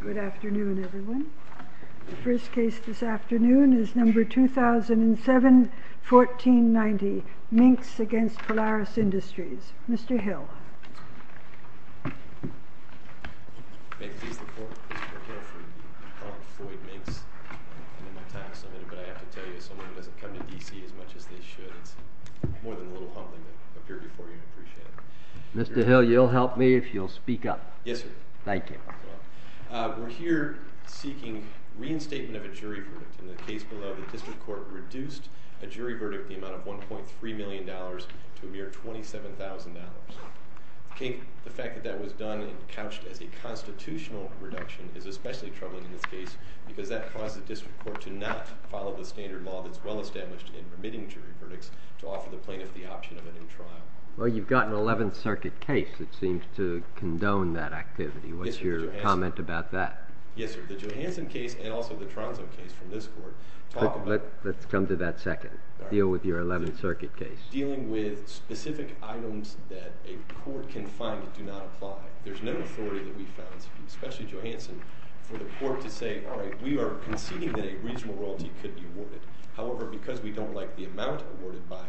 Good afternoon, everyone. The first case this afternoon is number 2007-1490, Minks v. Polaris Industries. Mr. Hill. May it please the Court, Mr. McHale, for you to call Floyd Minks and then my time submitted. But I have to tell you, as someone who doesn't come to D.C. as much as they should, it's more than a little humbling to appear before you. I appreciate it. Mr. Hill, you'll help me if you'll speak up. Yes, sir. Thank you. We're here seeking reinstatement of a jury verdict. In the case below, the District Court reduced a jury verdict, the amount of $1.3 million, to a mere $27,000. The fact that that was done and couched as a constitutional reduction is especially troubling in this case because that causes the District Court to not follow the standard law that's well established in permitting jury verdicts to offer the plaintiff the option of a new trial. Well, you've got an 11th Circuit case that seems to condone that activity. What's your comment about that? Yes, sir. The Johanson case and also the Tronso case from this Court talk about… Let's come to that second. Deal with your 11th Circuit case. …dealing with specific items that a court can find do not apply. There's no authority that we've found, especially Johanson, for the court to say, all right, we are conceding that a reasonable royalty could be awarded. However, because we don't like the amount awarded by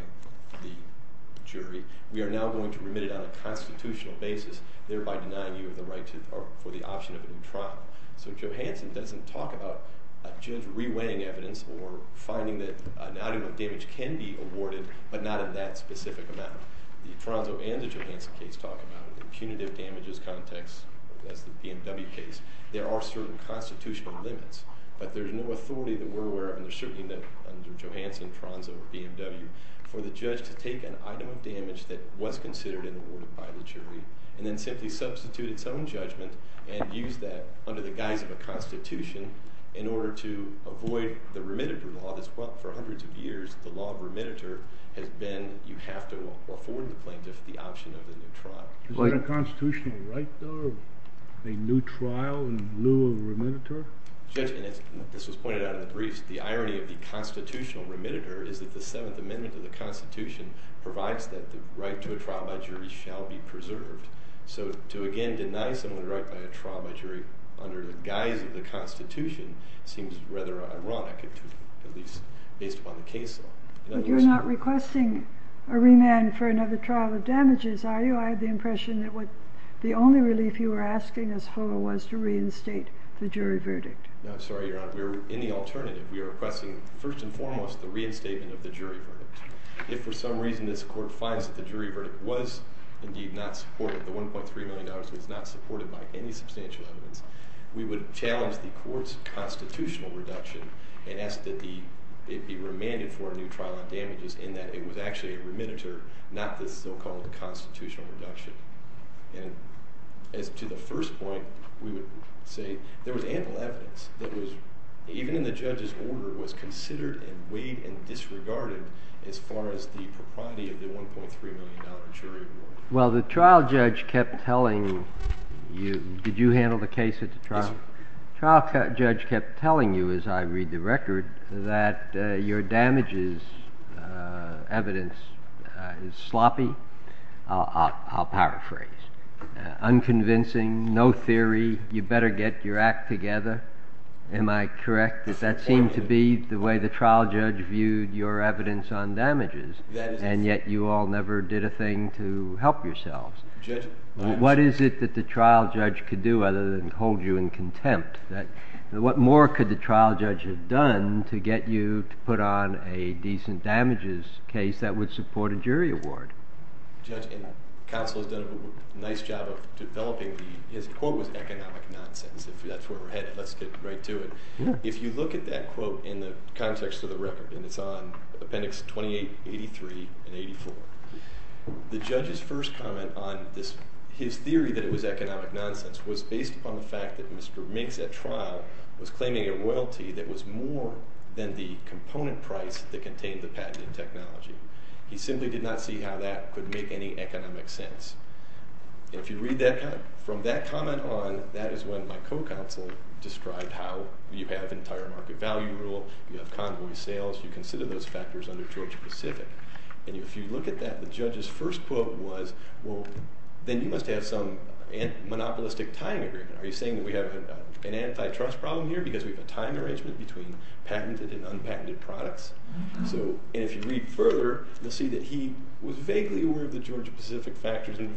the jury, we are now going to remit it on a constitutional basis, thereby denying you the right for the option of a new trial. So Johanson doesn't talk about a judge reweighing evidence or finding that an item of damage can be awarded but not in that specific amount. The Tronso and the Johanson case talk about impunitive damages context, as the BMW case. There are certain constitutional limits, but there's no authority that we're aware of, and there certainly isn't under Johanson, Tronso, or BMW, for the judge to take an item of damage that was considered and awarded by the jury and then simply substitute its own judgment and use that under the guise of a constitution in order to avoid the remitter law that's, well, for hundreds of years, the law of remitter has been you have to afford the plaintiff the option of a new trial. Is there a constitutional right, though, of a new trial in lieu of a remitter? Judge, and this was pointed out in the briefs, the irony of the constitutional remitter is that the Seventh Amendment of the Constitution provides that the right to a trial by jury shall be preserved. So to, again, deny someone the right by a trial by jury under the guise of the Constitution seems rather ironic, at least based upon the case law. But you're not requesting a remand for another trial of damages, are you? I have the impression that the only relief you were asking us for was to reinstate the jury verdict. No, I'm sorry, Your Honor. We're in the alternative. We are requesting, first and foremost, the reinstatement of the jury verdict. If for some reason this court finds that the jury verdict was indeed not supported, the $1.3 million was not supported by any substantial evidence, we would challenge the court's constitutional reduction and ask that it be remanded for a new trial of damages in that it was actually a remitter, not the so-called constitutional reduction. And as to the first point, we would say there was ample evidence that was, even in the judge's order, was considered and weighed and disregarded as far as the propriety of the $1.3 million jury award. Well, the trial judge kept telling you—did you handle the case at the trial? Yes, sir. The trial judge kept telling you, as I read the record, that your damages evidence is sloppy—I'll paraphrase—unconvincing, no theory, you better get your act together. Am I correct that that seemed to be the way the trial judge viewed your evidence on damages, and yet you all never did a thing to help yourselves? Judge— What is it that the trial judge could do other than hold you in contempt? What more could the trial judge have done to get you to put on a decent damages case that would support a jury award? Judge, and counsel has done a nice job of developing the—his quote was economic nonsense, if that's where we're headed. Let's get right to it. If you look at that quote in the context of the record, and it's on Appendix 28, 83, and 84, the judge's first comment on his theory that it was economic nonsense was based upon the fact that Mr. Minks, at trial, was claiming a royalty that was more than the component price that contained the patented technology. He simply did not see how that could make any economic sense. And if you read that—from that comment on, that is when my co-counsel described how you have entire market value rule, you have convoy sales, you consider those factors under Georgia-Pacific. And if you look at that, the judge's first quote was, well, then you must have some monopolistic tying agreement. Are you saying that we have an antitrust problem here because we have a tying arrangement between patented and unpatented products? So—and if you read further, you'll see that he was vaguely aware of the Georgia-Pacific factors and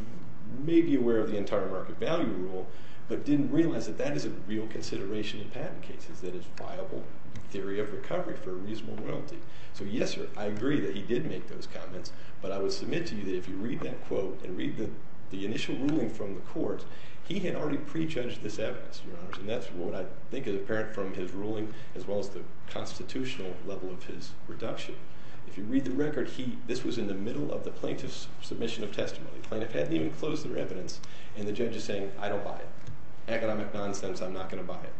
maybe aware of the entire market value rule, but didn't realize that that is a real consideration in patent cases, that it's viable theory of recovery for a reasonable royalty. So, yes, sir, I agree that he did make those comments, but I would submit to you that if you read that quote and read the initial ruling from the court, he had already prejudged this evidence, Your Honors. And that's what I think is apparent from his ruling as well as the constitutional level of his reduction. If you read the record, he—this was in the middle of the plaintiff's submission of testimony. The plaintiff hadn't even closed their evidence, and the judge is saying, I don't buy it. Economic nonsense, I'm not going to buy it.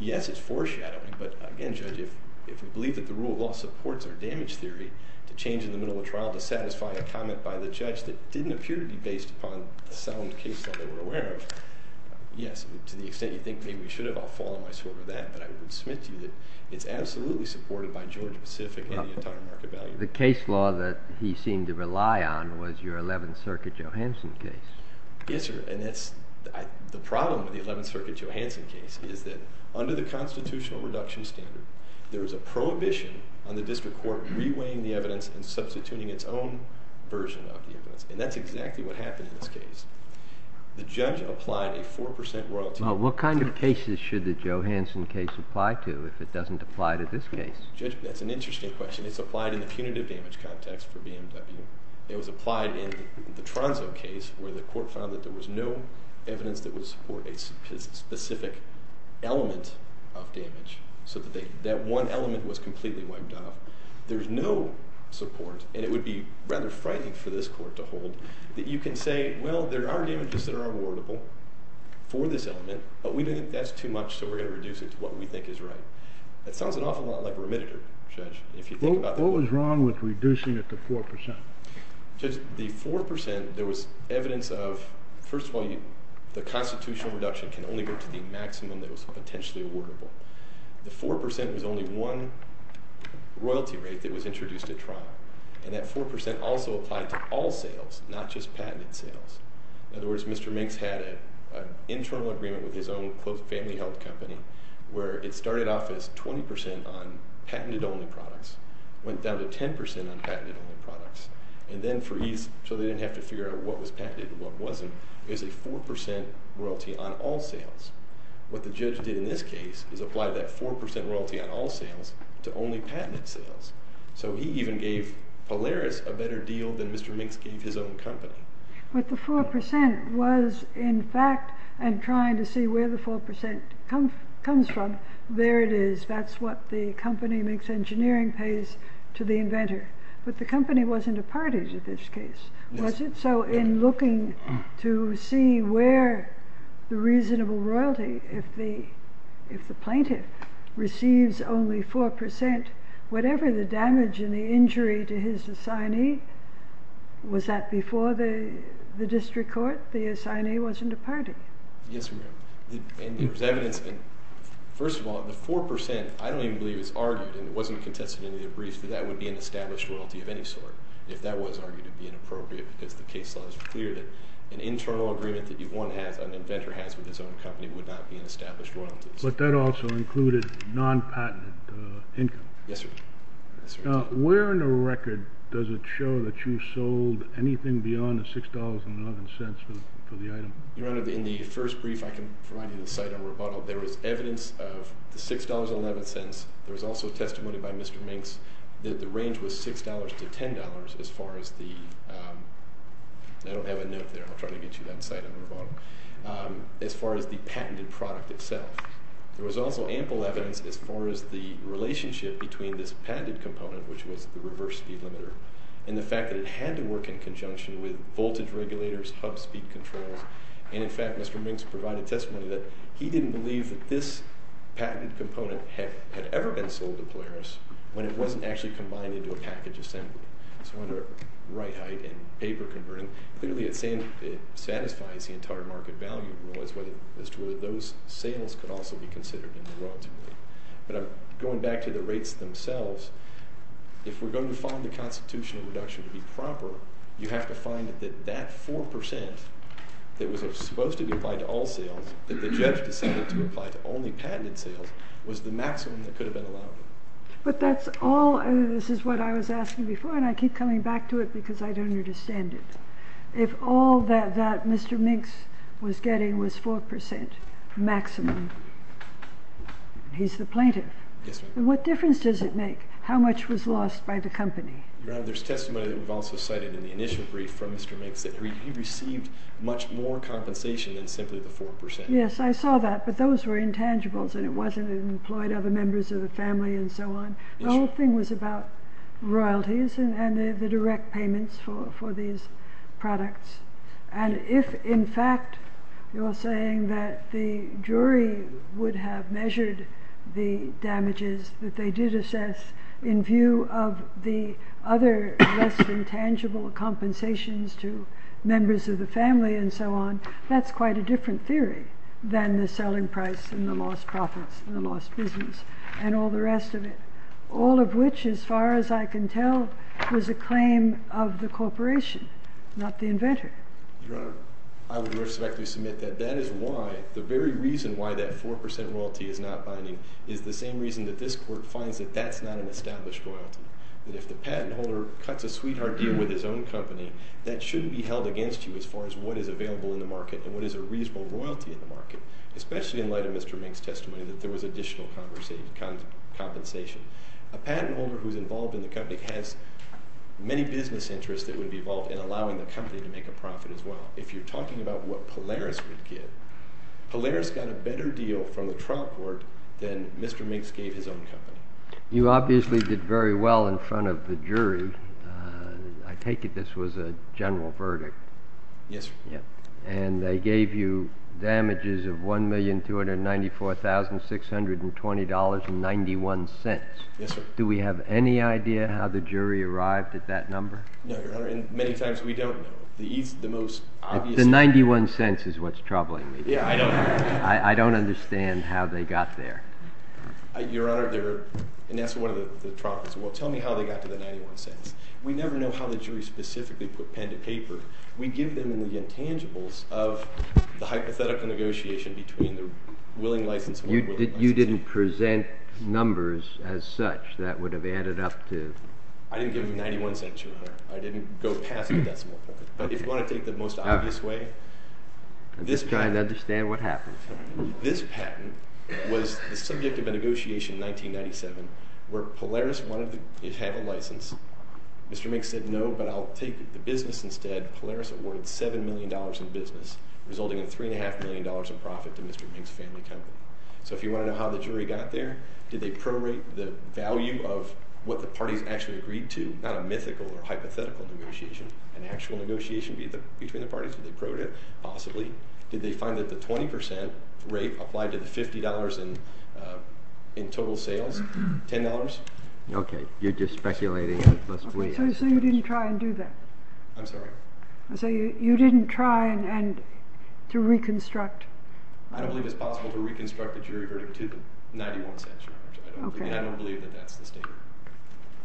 Yes, it's foreshadowing, but again, Judge, if we believe that the rule of law supports our damage theory to change in the middle of trial to satisfy a comment by the judge that didn't appear to be based upon the sound case that they were aware of, yes, to the extent you think maybe we should have, I'll fall on my sword for that, but I would submit to you that it's absolutely supported by Georgia-Pacific and the entire market value rule. The case law that he seemed to rely on was your 11th Circuit Johansson case. Yes, sir, and that's—the problem with the 11th Circuit Johansson case is that under the constitutional reduction standard, there is a prohibition on the district court reweighing the evidence and substituting its own version of the evidence, and that's exactly what happened in this case. The judge applied a 4% royalty— Well, what kind of cases should the Johansson case apply to if it doesn't apply to this case? Judge, that's an interesting question. It's applied in the punitive damage context for BMW. It was applied in the Tronzo case where the court found that there was no evidence that would support a specific element of damage, so that one element was completely wiped off. There's no support, and it would be rather frightening for this court to hold, that you can say, well, there are damages that are awardable for this element, but we think that's too much, so we're going to reduce it to what we think is right. That sounds an awful lot like a remitter, Judge, if you think about— What was wrong with reducing it to 4%? Judge, the 4%, there was evidence of, first of all, the constitutional reduction can only go to the maximum that was potentially awardable. The 4% was only one royalty rate that was introduced at trial, and that 4% also applied to all sales, not just patented sales. In other words, Mr. Minx had an internal agreement with his own family health company where it started off as 20% on patented-only products, went down to 10% on patented-only products, and then for ease so they didn't have to figure out what was patented and what wasn't, it was a 4% royalty on all sales. What the judge did in this case is apply that 4% royalty on all sales to only patented sales, so he even gave Polaris a better deal than Mr. Minx gave his own company. But the 4% was, in fact, and trying to see where the 4% comes from, there it is, that's what the company, Minx Engineering, pays to the inventor. But the company wasn't a party to this case, was it? So in looking to see where the reasonable royalty, if the plaintiff receives only 4%, whatever the damage and the injury to his assignee, was that before the district court, the assignee wasn't a party? Yes, Your Honor. And there's evidence, and first of all, the 4%, I don't even believe it's argued, and it wasn't contested in any of the briefs, that that would be an established royalty of any sort. If that was argued, it would be inappropriate because the case law is clear that an internal agreement that one has, an inventor has with his own company, would not be an established royalty. But that also included non-patented income. Yes, sir. Now, where in the record does it show that you sold anything beyond the $6.11 for the item? Your Honor, in the first brief I can provide you the site on Roboto, there was evidence of the $6.11. There was also testimony by Mr. Minx that the range was $6 to $10 as far as the, I don't have a note there, I'll try to get you that site on Roboto, as far as the patented product itself. There was also ample evidence as far as the relationship between this patented component, which was the reverse speed limiter, and the fact that it had to work in conjunction with voltage regulators, hub speed controls. And in fact, Mr. Minx provided testimony that he didn't believe that this patented component had ever been sold to Polaris when it wasn't actually combined into a package assembly. So under right height and paper converting, clearly it satisfies the entire market value rule as to whether those sales could also be considered in the royalty rule. But going back to the rates themselves, if we're going to find the constitutional reduction to be proper, you have to find that that 4% that was supposed to be applied to all sales, that the judge decided to apply to only patented sales, was the maximum that could have been allowed. But that's all, this is what I was asking before, and I keep coming back to it because I don't understand it. If all that Mr. Minx was getting was 4% maximum, he's the plaintiff. Yes, ma'am. What difference does it make? How much was lost by the company? Your Honor, there's testimony that we've also cited in the initial brief from Mr. Minx that he received much more compensation than simply the 4%. Yes, I saw that, but those were intangibles and it wasn't employed other members of the family and so on. The whole thing was about royalties and the direct payments for these products. And if, in fact, you're saying that the jury would have measured the damages that they did assess in view of the other less than tangible compensations to members of the family and so on, that's quite a different theory than the selling price and the lost profits and the lost business and all the rest of it. All of which, as far as I can tell, was a claim of the corporation, not the inventor. Your Honor, I would respectfully submit that that is why, the very reason why that 4% royalty is not binding, is the same reason that this Court finds that that's not an established royalty. That if the patent holder cuts a sweetheart deal with his own company, that shouldn't be held against you as far as what is available in the market and what is a reasonable royalty in the market, especially in light of Mr. Minx's testimony that there was additional compensation. A patent holder who is involved in the company has many business interests that would be involved in allowing the company to make a profit as well. If you're talking about what Polaris would get, Polaris got a better deal from the Trump Court than Mr. Minx gave his own company. You obviously did very well in front of the jury. I take it this was a general verdict. Yes, sir. And they gave you damages of $1,294,620.91. Yes, sir. Do we have any idea how the jury arrived at that number? No, Your Honor, and many times we don't know. The most obvious... The $0.91 is what's troubling me. Yeah, I don't... I don't understand how they got there. Your Honor, and that's one of the troubles. Well, tell me how they got to the $0.91. We never know how the jury specifically put pen to paper. We give them the intangibles of the hypothetical negotiation between the willing license holder... You didn't present numbers as such that would have added up to... I didn't give them $0.91, Your Honor. I didn't go past the decimal point. But if you want to take the most obvious way... I'm just trying to understand what happened. This patent was the subject of a negotiation in 1997 where Polaris wanted to have a license. Mr. Minks said no, but I'll take the business instead. Polaris awarded $7 million in business, resulting in $3.5 million in profit to Mr. Minks' family company. So if you want to know how the jury got there... Did they prorate the value of what the parties actually agreed to? Not a mythical or hypothetical negotiation, an actual negotiation between the parties. Did they prorate it? Possibly. Did they find that the 20% rate applied to the $50 in total sales? $10? Okay. You're just speculating. So you didn't try and do that? I'm sorry? So you didn't try to reconstruct? I don't believe it's possible to reconstruct the jury verdict to the $0.91. I don't believe that that's the statement.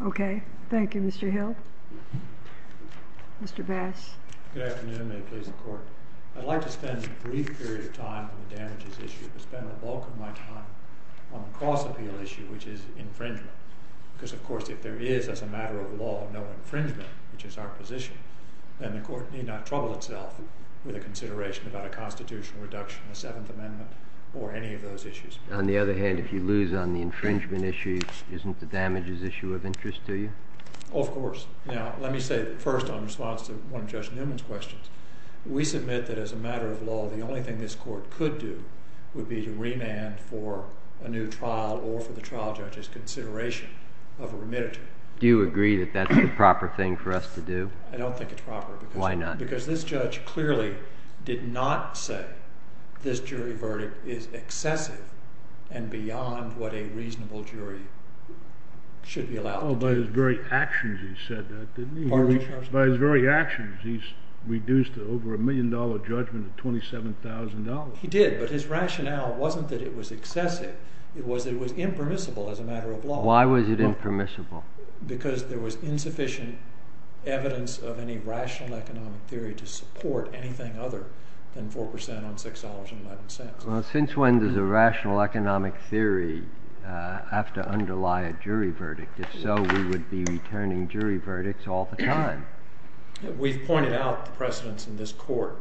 Okay. Thank you, Mr. Hill. Mr. Bass. Good afternoon. May it please the Court. I'd like to spend a brief period of time on the damages issue, but spend the bulk of my time on the cross-appeal issue, which is infringement. Because, of course, if there is, as a matter of law, no infringement, which is our position, then the Court need not trouble itself with a consideration about a constitutional reduction, a Seventh Amendment, or any of those issues. On the other hand, if you lose on the infringement issue, isn't the damages issue of interest to you? Of course. Now, let me say first, in response to one of Judge Newman's questions, we submit that, as a matter of law, the only thing this Court could do would be to remand for a new trial or for the trial judge's consideration of a remittance. Do you agree that that's the proper thing for us to do? I don't think it's proper. Why not? Because this judge clearly did not say this jury verdict is excessive and beyond what a reasonable jury should be allowed to do. Well, by his very actions, he said that, didn't he? Pardon me, Your Honor? By his very actions, he's reduced an over-a-million-dollar judgment to $27,000. He did, but his rationale wasn't that it was excessive. It was that it was impermissible as a matter of law. Why was it impermissible? Because there was insufficient evidence of any rational economic theory to support anything other than 4% on $6.11. Well, since when does a rational economic theory have to underlie a jury verdict? If so, we would be returning jury verdicts all the time. We've pointed out the precedents in this court,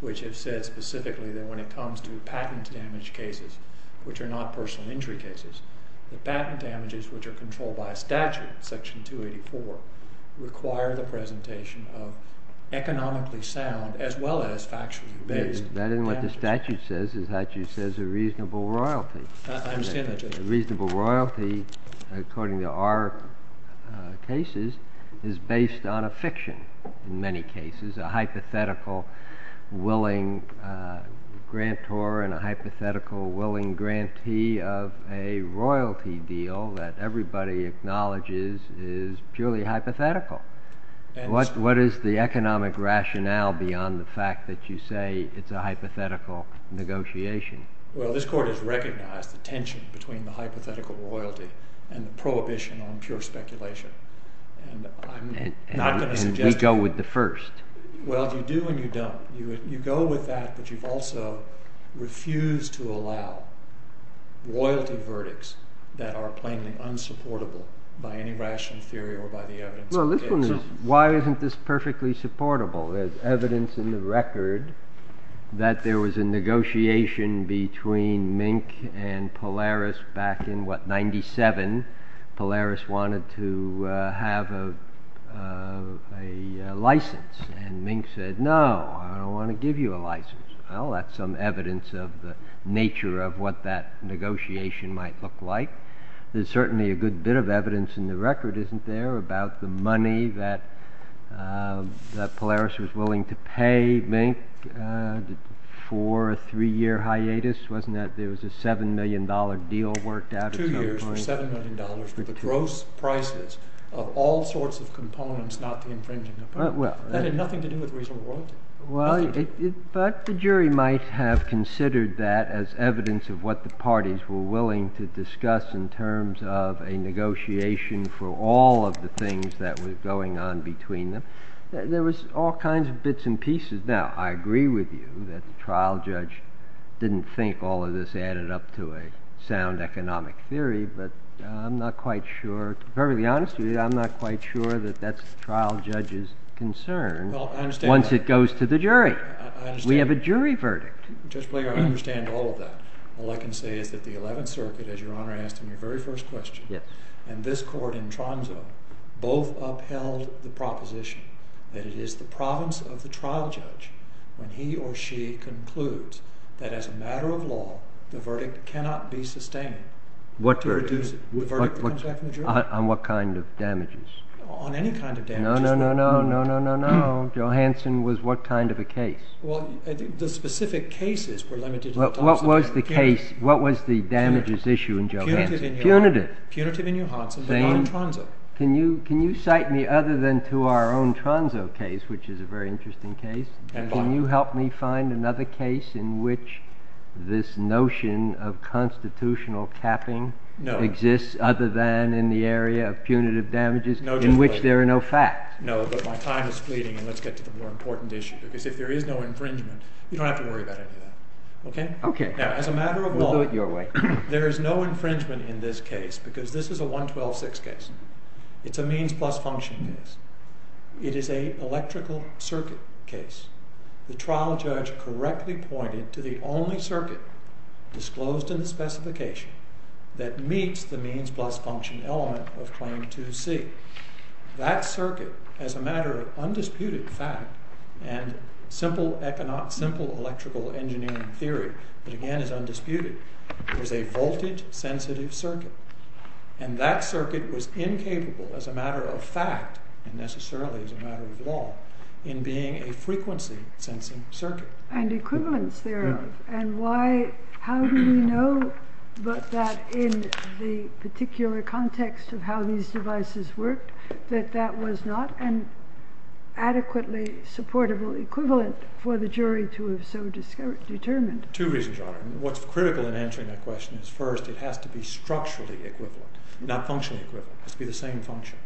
which have said specifically that when it comes to patent damage cases, which are not personal injury cases, the patent damages which are controlled by statute, Section 284, require the presentation of economically sound as well as factually based. That isn't what the statute says. The statute says a reasonable royalty. I understand that, Judge. A reasonable royalty, according to our cases, is based on a fiction in many cases, a hypothetical willing grantor and a hypothetical willing grantee of a royalty deal that everybody acknowledges is purely hypothetical. What is the economic rationale beyond the fact that you say it's a hypothetical negotiation? Well, this court has recognized the tension between the hypothetical royalty and the prohibition on pure speculation. And we go with the first. Well, you do and you don't. You go with that, but you've also refused to allow royalty verdicts that are plainly unsupportable by any rational theory or by the evidence. Well, this one is, why isn't this perfectly supportable? There's evidence in the record that there was a negotiation between Mink and Polaris back in, what, 1997. Polaris wanted to have a license, and Mink said, No, I don't want to give you a license. Well, that's some evidence of the nature of what that negotiation might look like. There's certainly a good bit of evidence in the record, isn't there, about the money that Polaris was willing to pay Mink for a three-year hiatus? Wasn't that there was a $7 million deal worked out at some point? Two years for $7 million for the gross prices of all sorts of components, not the infringing component. That had nothing to do with reasonable royalty. Well, in fact, the jury might have considered that as evidence of what the parties were willing to discuss in terms of a negotiation for all of the things that were going on between them. There was all kinds of bits and pieces. Now, I agree with you that the trial judge didn't think all of this added up to a sound economic theory, but I'm not quite sure, to be perfectly honest with you, I'm not quite sure that that's the trial judge's concern once it goes to the jury. We have a jury verdict. I understand all of that. All I can say is that the Eleventh Circuit, as Your Honor asked in your very first question, and this court in Tromso both upheld the proposition that it is the province of the trial judge when he or she concludes that as a matter of law, the verdict cannot be sustained to reduce it. What verdict? The verdict that comes back from the jury. On what kind of damages? On any kind of damages. No, no, no, no, no, no, no. Johansen was what kind of a case? Well, I think the specific cases were limited to Thomson. What was the case? What was the damages issue in Johansen? Punitive. Punitive in Johansen, but not in Tromso. Can you cite me other than to our own Tromso case, which is a very interesting case? Can you help me find another case in which this notion of constitutional capping exists other than in the area of punitive damages in which there are no facts? No, but my time is fleeting, and let's get to the more important issue. Because if there is no infringement, you don't have to worry about any of that. Okay? Okay. Now, as a matter of law, there is no infringement in this case because this is a 112-6 case. It's a means plus function case. It is an electrical circuit case. The trial judge correctly pointed to the only circuit disclosed in the specification that meets the means plus function element of Claim 2C. That circuit, as a matter of undisputed fact, and simple electrical engineering theory, that again is undisputed, was a voltage-sensitive circuit. And that circuit was incapable, as a matter of fact, and necessarily as a matter of law, in being a frequency-sensing circuit. And equivalence thereof. And how do we know but that in the particular context of how these devices worked, that that was not an adequately supportable equivalent for the jury to have so determined? Two reasons are. What's critical in answering that question is, first, it has to be structurally equivalent, not functionally equivalent. It has to be the same function.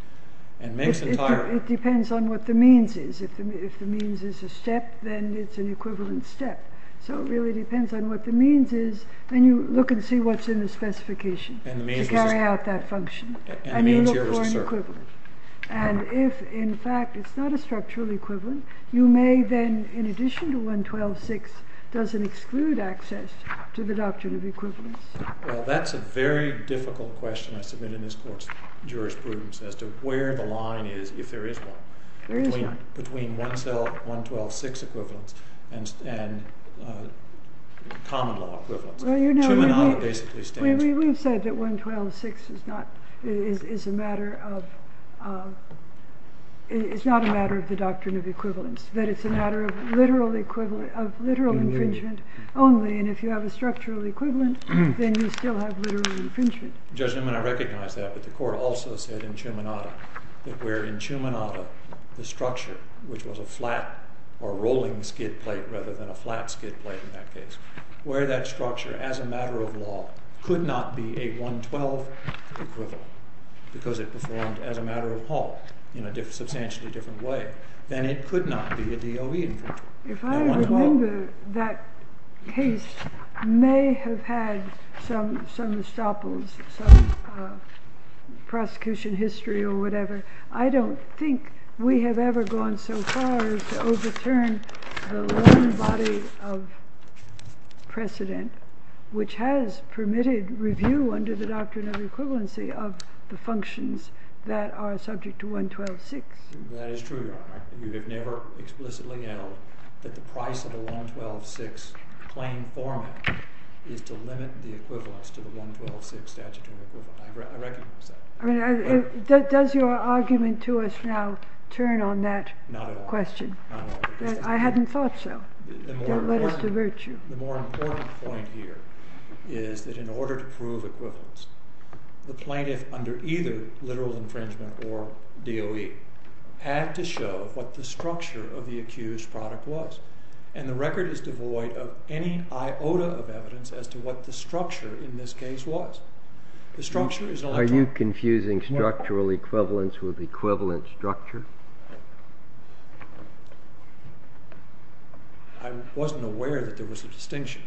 It depends on what the means is. If the means is a step, then it's an equivalent step. So it really depends on what the means is, and you look and see what's in the specification to carry out that function. And you look for an equivalent. And if, in fact, it's not a structurally equivalent, you may then, in addition to 112.6, doesn't exclude access to the doctrine of equivalence. Well, that's a very difficult question I submit in this court's jurisprudence as to where the line is if there is one. There is one. There's a line between 112.6 equivalence and common law equivalence. Well, you know, we've said that 112.6 is not a matter of the doctrine of equivalence, that it's a matter of literal infringement only. And if you have a structural equivalent, then you still have literal infringement. Judge Newman, I recognize that. But the court also said in Ciumanatta that where in Ciumanatta the structure, which was a flat or rolling skid plate rather than a flat skid plate in that case, where that structure as a matter of law could not be a 112 equivalent because it performed as a matter of law in a substantially different way, then it could not be a DOE equivalent. If I remember, that case may have had some estoppels, some prosecution history or whatever. I don't think we have ever gone so far as to overturn the one body of precedent which has permitted review under the doctrine of equivalency of the functions that are subject to 112.6. That is true, Your Honor. You have never explicitly yelled that the price of a 112.6 plain formant is to limit the equivalence to the 112.6 statutory equivalent. I recognize that. I mean, does your argument to us now turn on that question? Not at all. Not at all. I hadn't thought so. Don't let us divert you. The more important point here is that in order to prove equivalence, the plaintiff under either literal infringement or DOE had to show what the structure of the accused product was, and the record is devoid of any iota of evidence as to what the structure in this case was. Are you confusing structural equivalence with equivalent structure? I wasn't aware that there was a distinction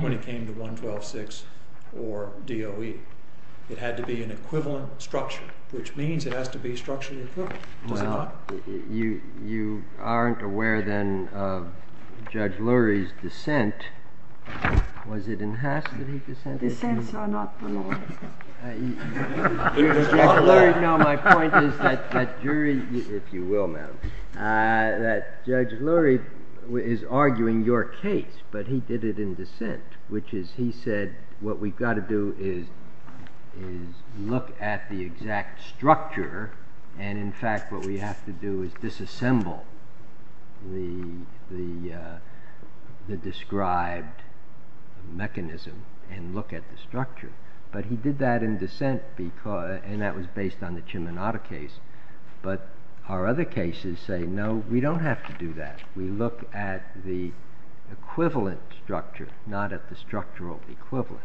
when it came to 112.6 or DOE. It had to be an equivalent structure, which means it has to be structurally equivalent, does it not? Well, you aren't aware then of Judge Lurie's dissent. Was it in Haslody dissent? Dissents are not the law. My point is that Judge Lurie is arguing your case, but he did it in dissent, which is he said what we've got to do is look at the exact structure, and in fact what we have to do is disassemble the described mechanism and look at the structure. But he did that in dissent, and that was based on the Ciminatta case. But our other cases say no, we don't have to do that. We look at the equivalent structure, not at the structural equivalent.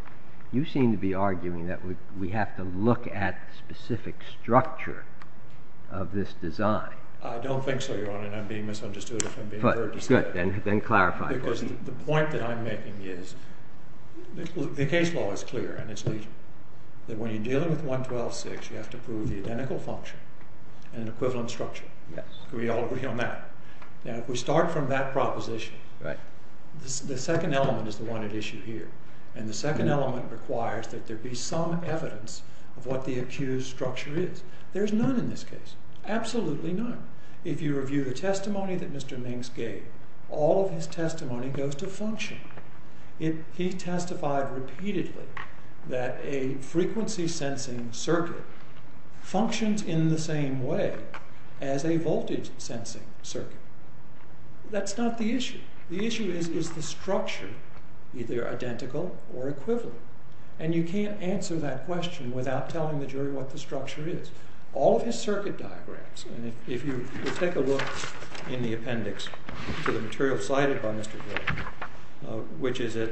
You seem to be arguing that we have to look at the specific structure of this design. I don't think so, Your Honor, and I'm being misunderstood. Good, then clarify. Because the point that I'm making is the case law is clear, and it's legion, that when you're dealing with 112-6, you have to prove the identical function and equivalent structure. We all agree on that. Now, if we start from that proposition, the second element is the one at issue here, and the second element requires that there be some evidence of what the accused structure is. There's none in this case, absolutely none. If you review the testimony that Mr. Minks gave, all of his testimony goes to function. He testified repeatedly that a frequency-sensing circuit functions in the same way as a voltage-sensing circuit. That's not the issue. The issue is, is the structure either identical or equivalent? And you can't answer that question without telling the jury what the structure is. All of his circuit diagrams, and if you take a look in the appendix to the material cited by Mr. Hill, which is at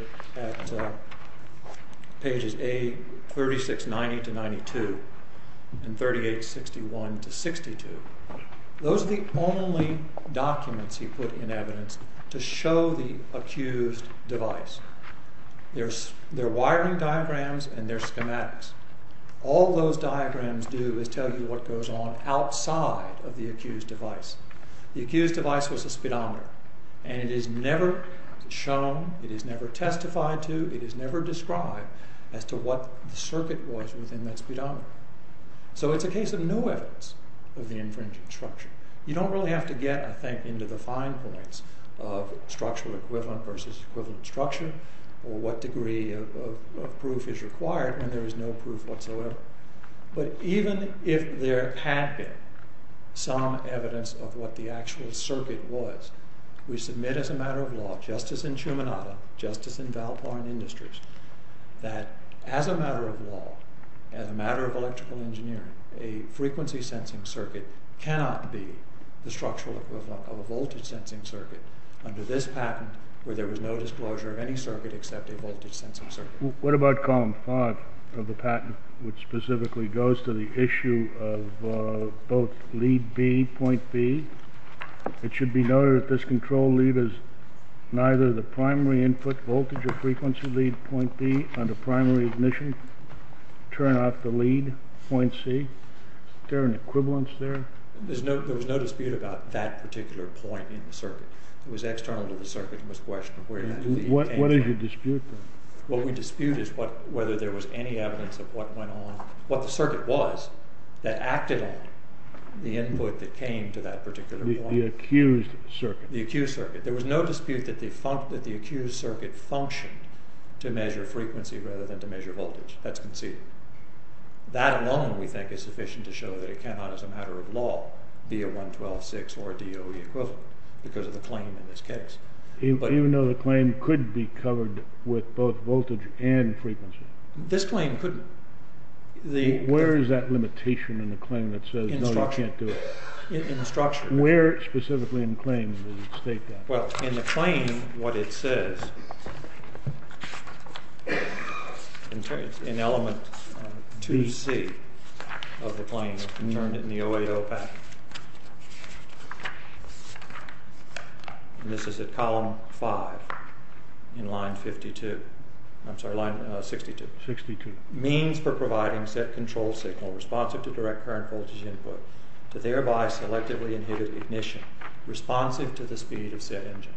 pages A3690-92 and 3861-62, those are the only documents he put in evidence to show the accused device. They're wiring diagrams and they're schematics. All those diagrams do is tell you what goes on outside of the accused device. The accused device was a speedometer, and it is never shown, it is never testified to, it is never described as to what the circuit was within that speedometer. So it's a case of no evidence of the infringing structure. You don't really have to get, I think, into the fine points of structural equivalent versus equivalent structure or what degree of proof is required when there is no proof whatsoever. But even if there had been some evidence of what the actual circuit was, we submit as a matter of law, just as in Shumanata, just as in Valpar and Industries, that as a matter of law, as a matter of electrical engineering, a frequency-sensing circuit cannot be the structural equivalent of a voltage-sensing circuit under this patent where there was no disclosure of any circuit except a voltage-sensing circuit. What about column 5 of the patent, which specifically goes to the issue of both lead B, point B? It should be noted that this control lead is neither the primary input voltage or frequency lead, point B, under primary ignition, turn off the lead, point C. Is there an equivalence there? There was no dispute about that particular point in the circuit. It was external to the circuit. What is the dispute then? What we dispute is whether there was any evidence of what went on, what the circuit was, that acted on the input that came to that particular point. The accused circuit. The accused circuit. There was no dispute that the accused circuit functioned to measure frequency rather than to measure voltage. That's conceivable. It could all be a 112.6 or a DOE equivalent because of the claim in this case. Even though the claim could be covered with both voltage and frequency? This claim couldn't. Where is that limitation in the claim that says no, you can't do it? In the structure. Where specifically in the claim does it state that? Well, in the claim, what it says, it's in element 2C of the claim. I've turned it in the OAO back. This is at column 5 in line 52. I'm sorry, line 62. Means for providing set control signal responsive to direct current voltage input to thereby selectively inhibit ignition responsive to the speed of set engine.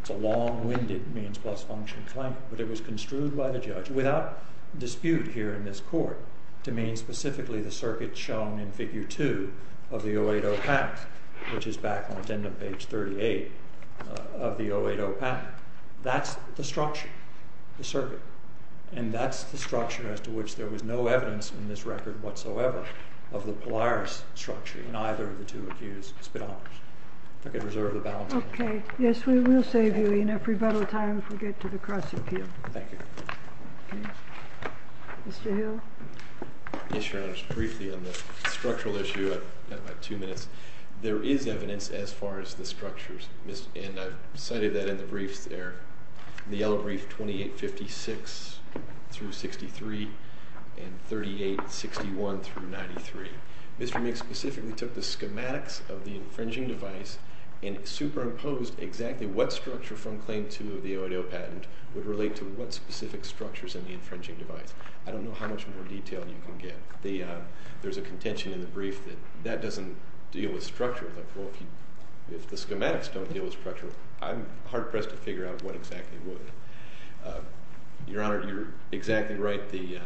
It's a long-winded means plus function claim, but it was construed by the judge without dispute here in this court to mean specifically the circuit shown in figure 2 of the OAO path, which is back on the end of page 38 of the OAO path. That's the structure, the circuit. And that's the structure as to which there was no evidence in this record whatsoever of the Polaris structure in either of the two accused speedometers. If I could reserve the balance. Okay. Yes, we will save you enough rebuttal time if we get to the cross appeal. Thank you. Okay. Mr. Hill? Yes, Your Honor. Just briefly on the structural issue, I've got about two minutes. There is evidence as far as the structures, and I've cited that in the briefs there, in the yellow brief 2856 through 63 and 3861 through 93. Mr. Meeks specifically took the schematics of the infringing device and superimposed exactly what structure from claim 2 of the OAO patent would relate to what specific structures in the infringing device. I don't know how much more detail you can get. There's a contention in the brief that that doesn't deal with structure, but if the schematics don't deal with structure, I'm hard-pressed to figure out what exactly would. Your Honor, you're exactly right. The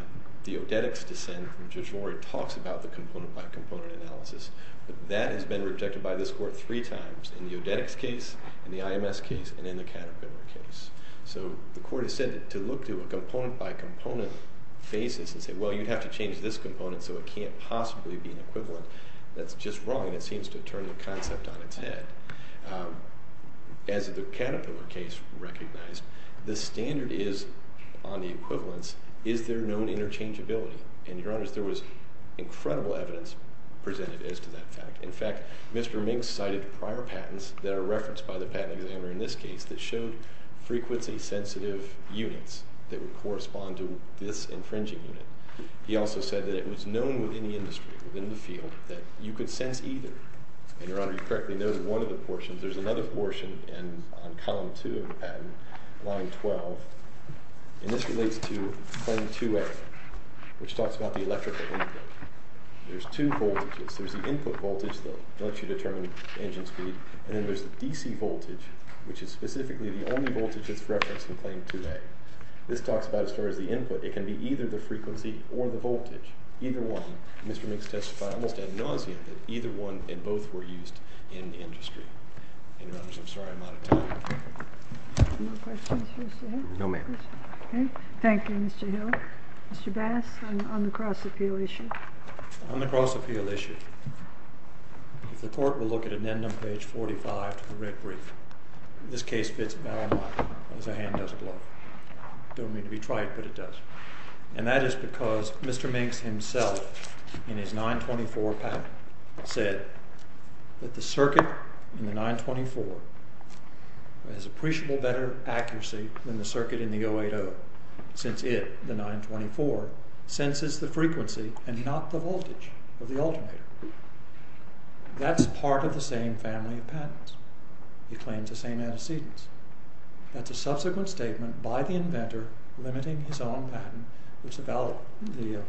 Odetics dissent from Judge Laurie talks about the component-by-component analysis, but that has been rejected by this court three times, in the Odetics case, in the IMS case, and in the Caterpillar case. So the court has said that to look to a component-by-component basis and say, well, you'd have to change this component so it can't possibly be an equivalent, that's just wrong, and it seems to have turned the concept on its head. As the Caterpillar case recognized, the standard is on the equivalents, is there known interchangeability? And, Your Honor, there was incredible evidence presented as to that fact. In fact, Mr. Minks cited prior patents that are referenced by the patent examiner in this case that showed frequency-sensitive units that would correspond to this infringing unit. He also said that it was known within the industry, within the field, that you could sense either. And, Your Honor, you correctly noted one of the portions. There's another portion on column 2 of the patent, line 12, and this relates to claim 2A, which talks about the electrical input. There's two voltages. There's the input voltage that lets you determine engine speed, and then there's the DC voltage, which is specifically the only voltage that's referenced in claim 2A. This talks about, as far as the input, it can be either the frequency or the voltage, either one. Mr. Minks testified almost ad nauseam that either one and both were used in the industry. And, Your Honors, I'm sorry I'm out of time. Any more questions for Mr. Hill? No, ma'am. Okay. Thank you, Mr. Hill. Mr. Bass, on the cross-appeal issue. On the cross-appeal issue, if the court will look at addendum page 45 to the writ brief, this case fits about a mile as a hand does a glove. Don't mean to be trite, but it does. And that is because Mr. Minks himself, in his 924 patent, said that the circuit in the 924 has appreciable better accuracy than the circuit in the 080, since it, the 924, senses the frequency and not the voltage of the alternator. That's part of the same family of patents. He claims the same antecedents. That's a subsequent statement by the inventor limiting his own patent, which the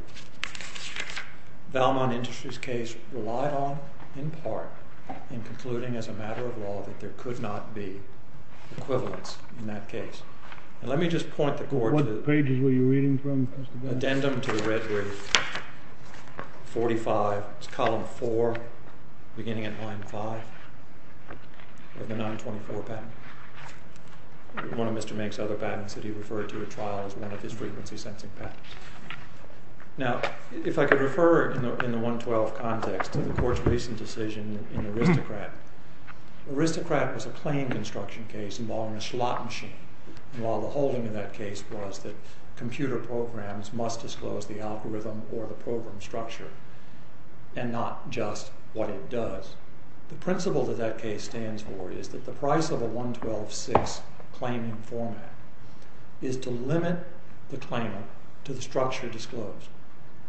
Valmont Industries case relied on, in part, in concluding, as a matter of law, that there could not be equivalence in that case. And let me just point the court... What pages were you reading from, Mr. Bass? Addendum to the writ brief, 45, it's column 4, beginning at line 5, of the 924 patent. One of Mr. Minks' other patents that he referred to at trial as one of his frequency-sensing patents. Now, if I could refer, in the 112 context, to the court's recent decision in Aristocrat. Aristocrat was a plain construction case involving a slot machine, while the holding of that case was that computer programs must disclose the algorithm or the program structure, and not just what it does. The principle that that case stands for is that the price of a 112-6 claiming format is to limit the claimant to the structure disclosed.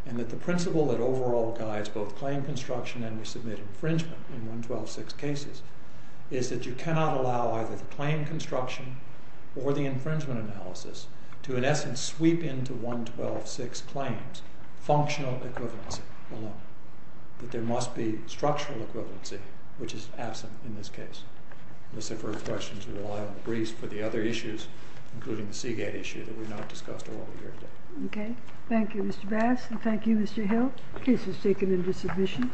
And that the principle that overall guides both claim construction and resubmitted infringement in 112-6 cases is that you cannot allow either the claim construction or the infringement analysis to, in essence, sweep into 112-6 claims functional equivalency alone. That there must be structural equivalency, which is absent in this case. This is for questions that rely on the briefs for the other issues, including the Seagate issue that we've not discussed all over here today. Okay. Thank you, Mr. Bass. And thank you, Mr. Hill. The case was taken into submission.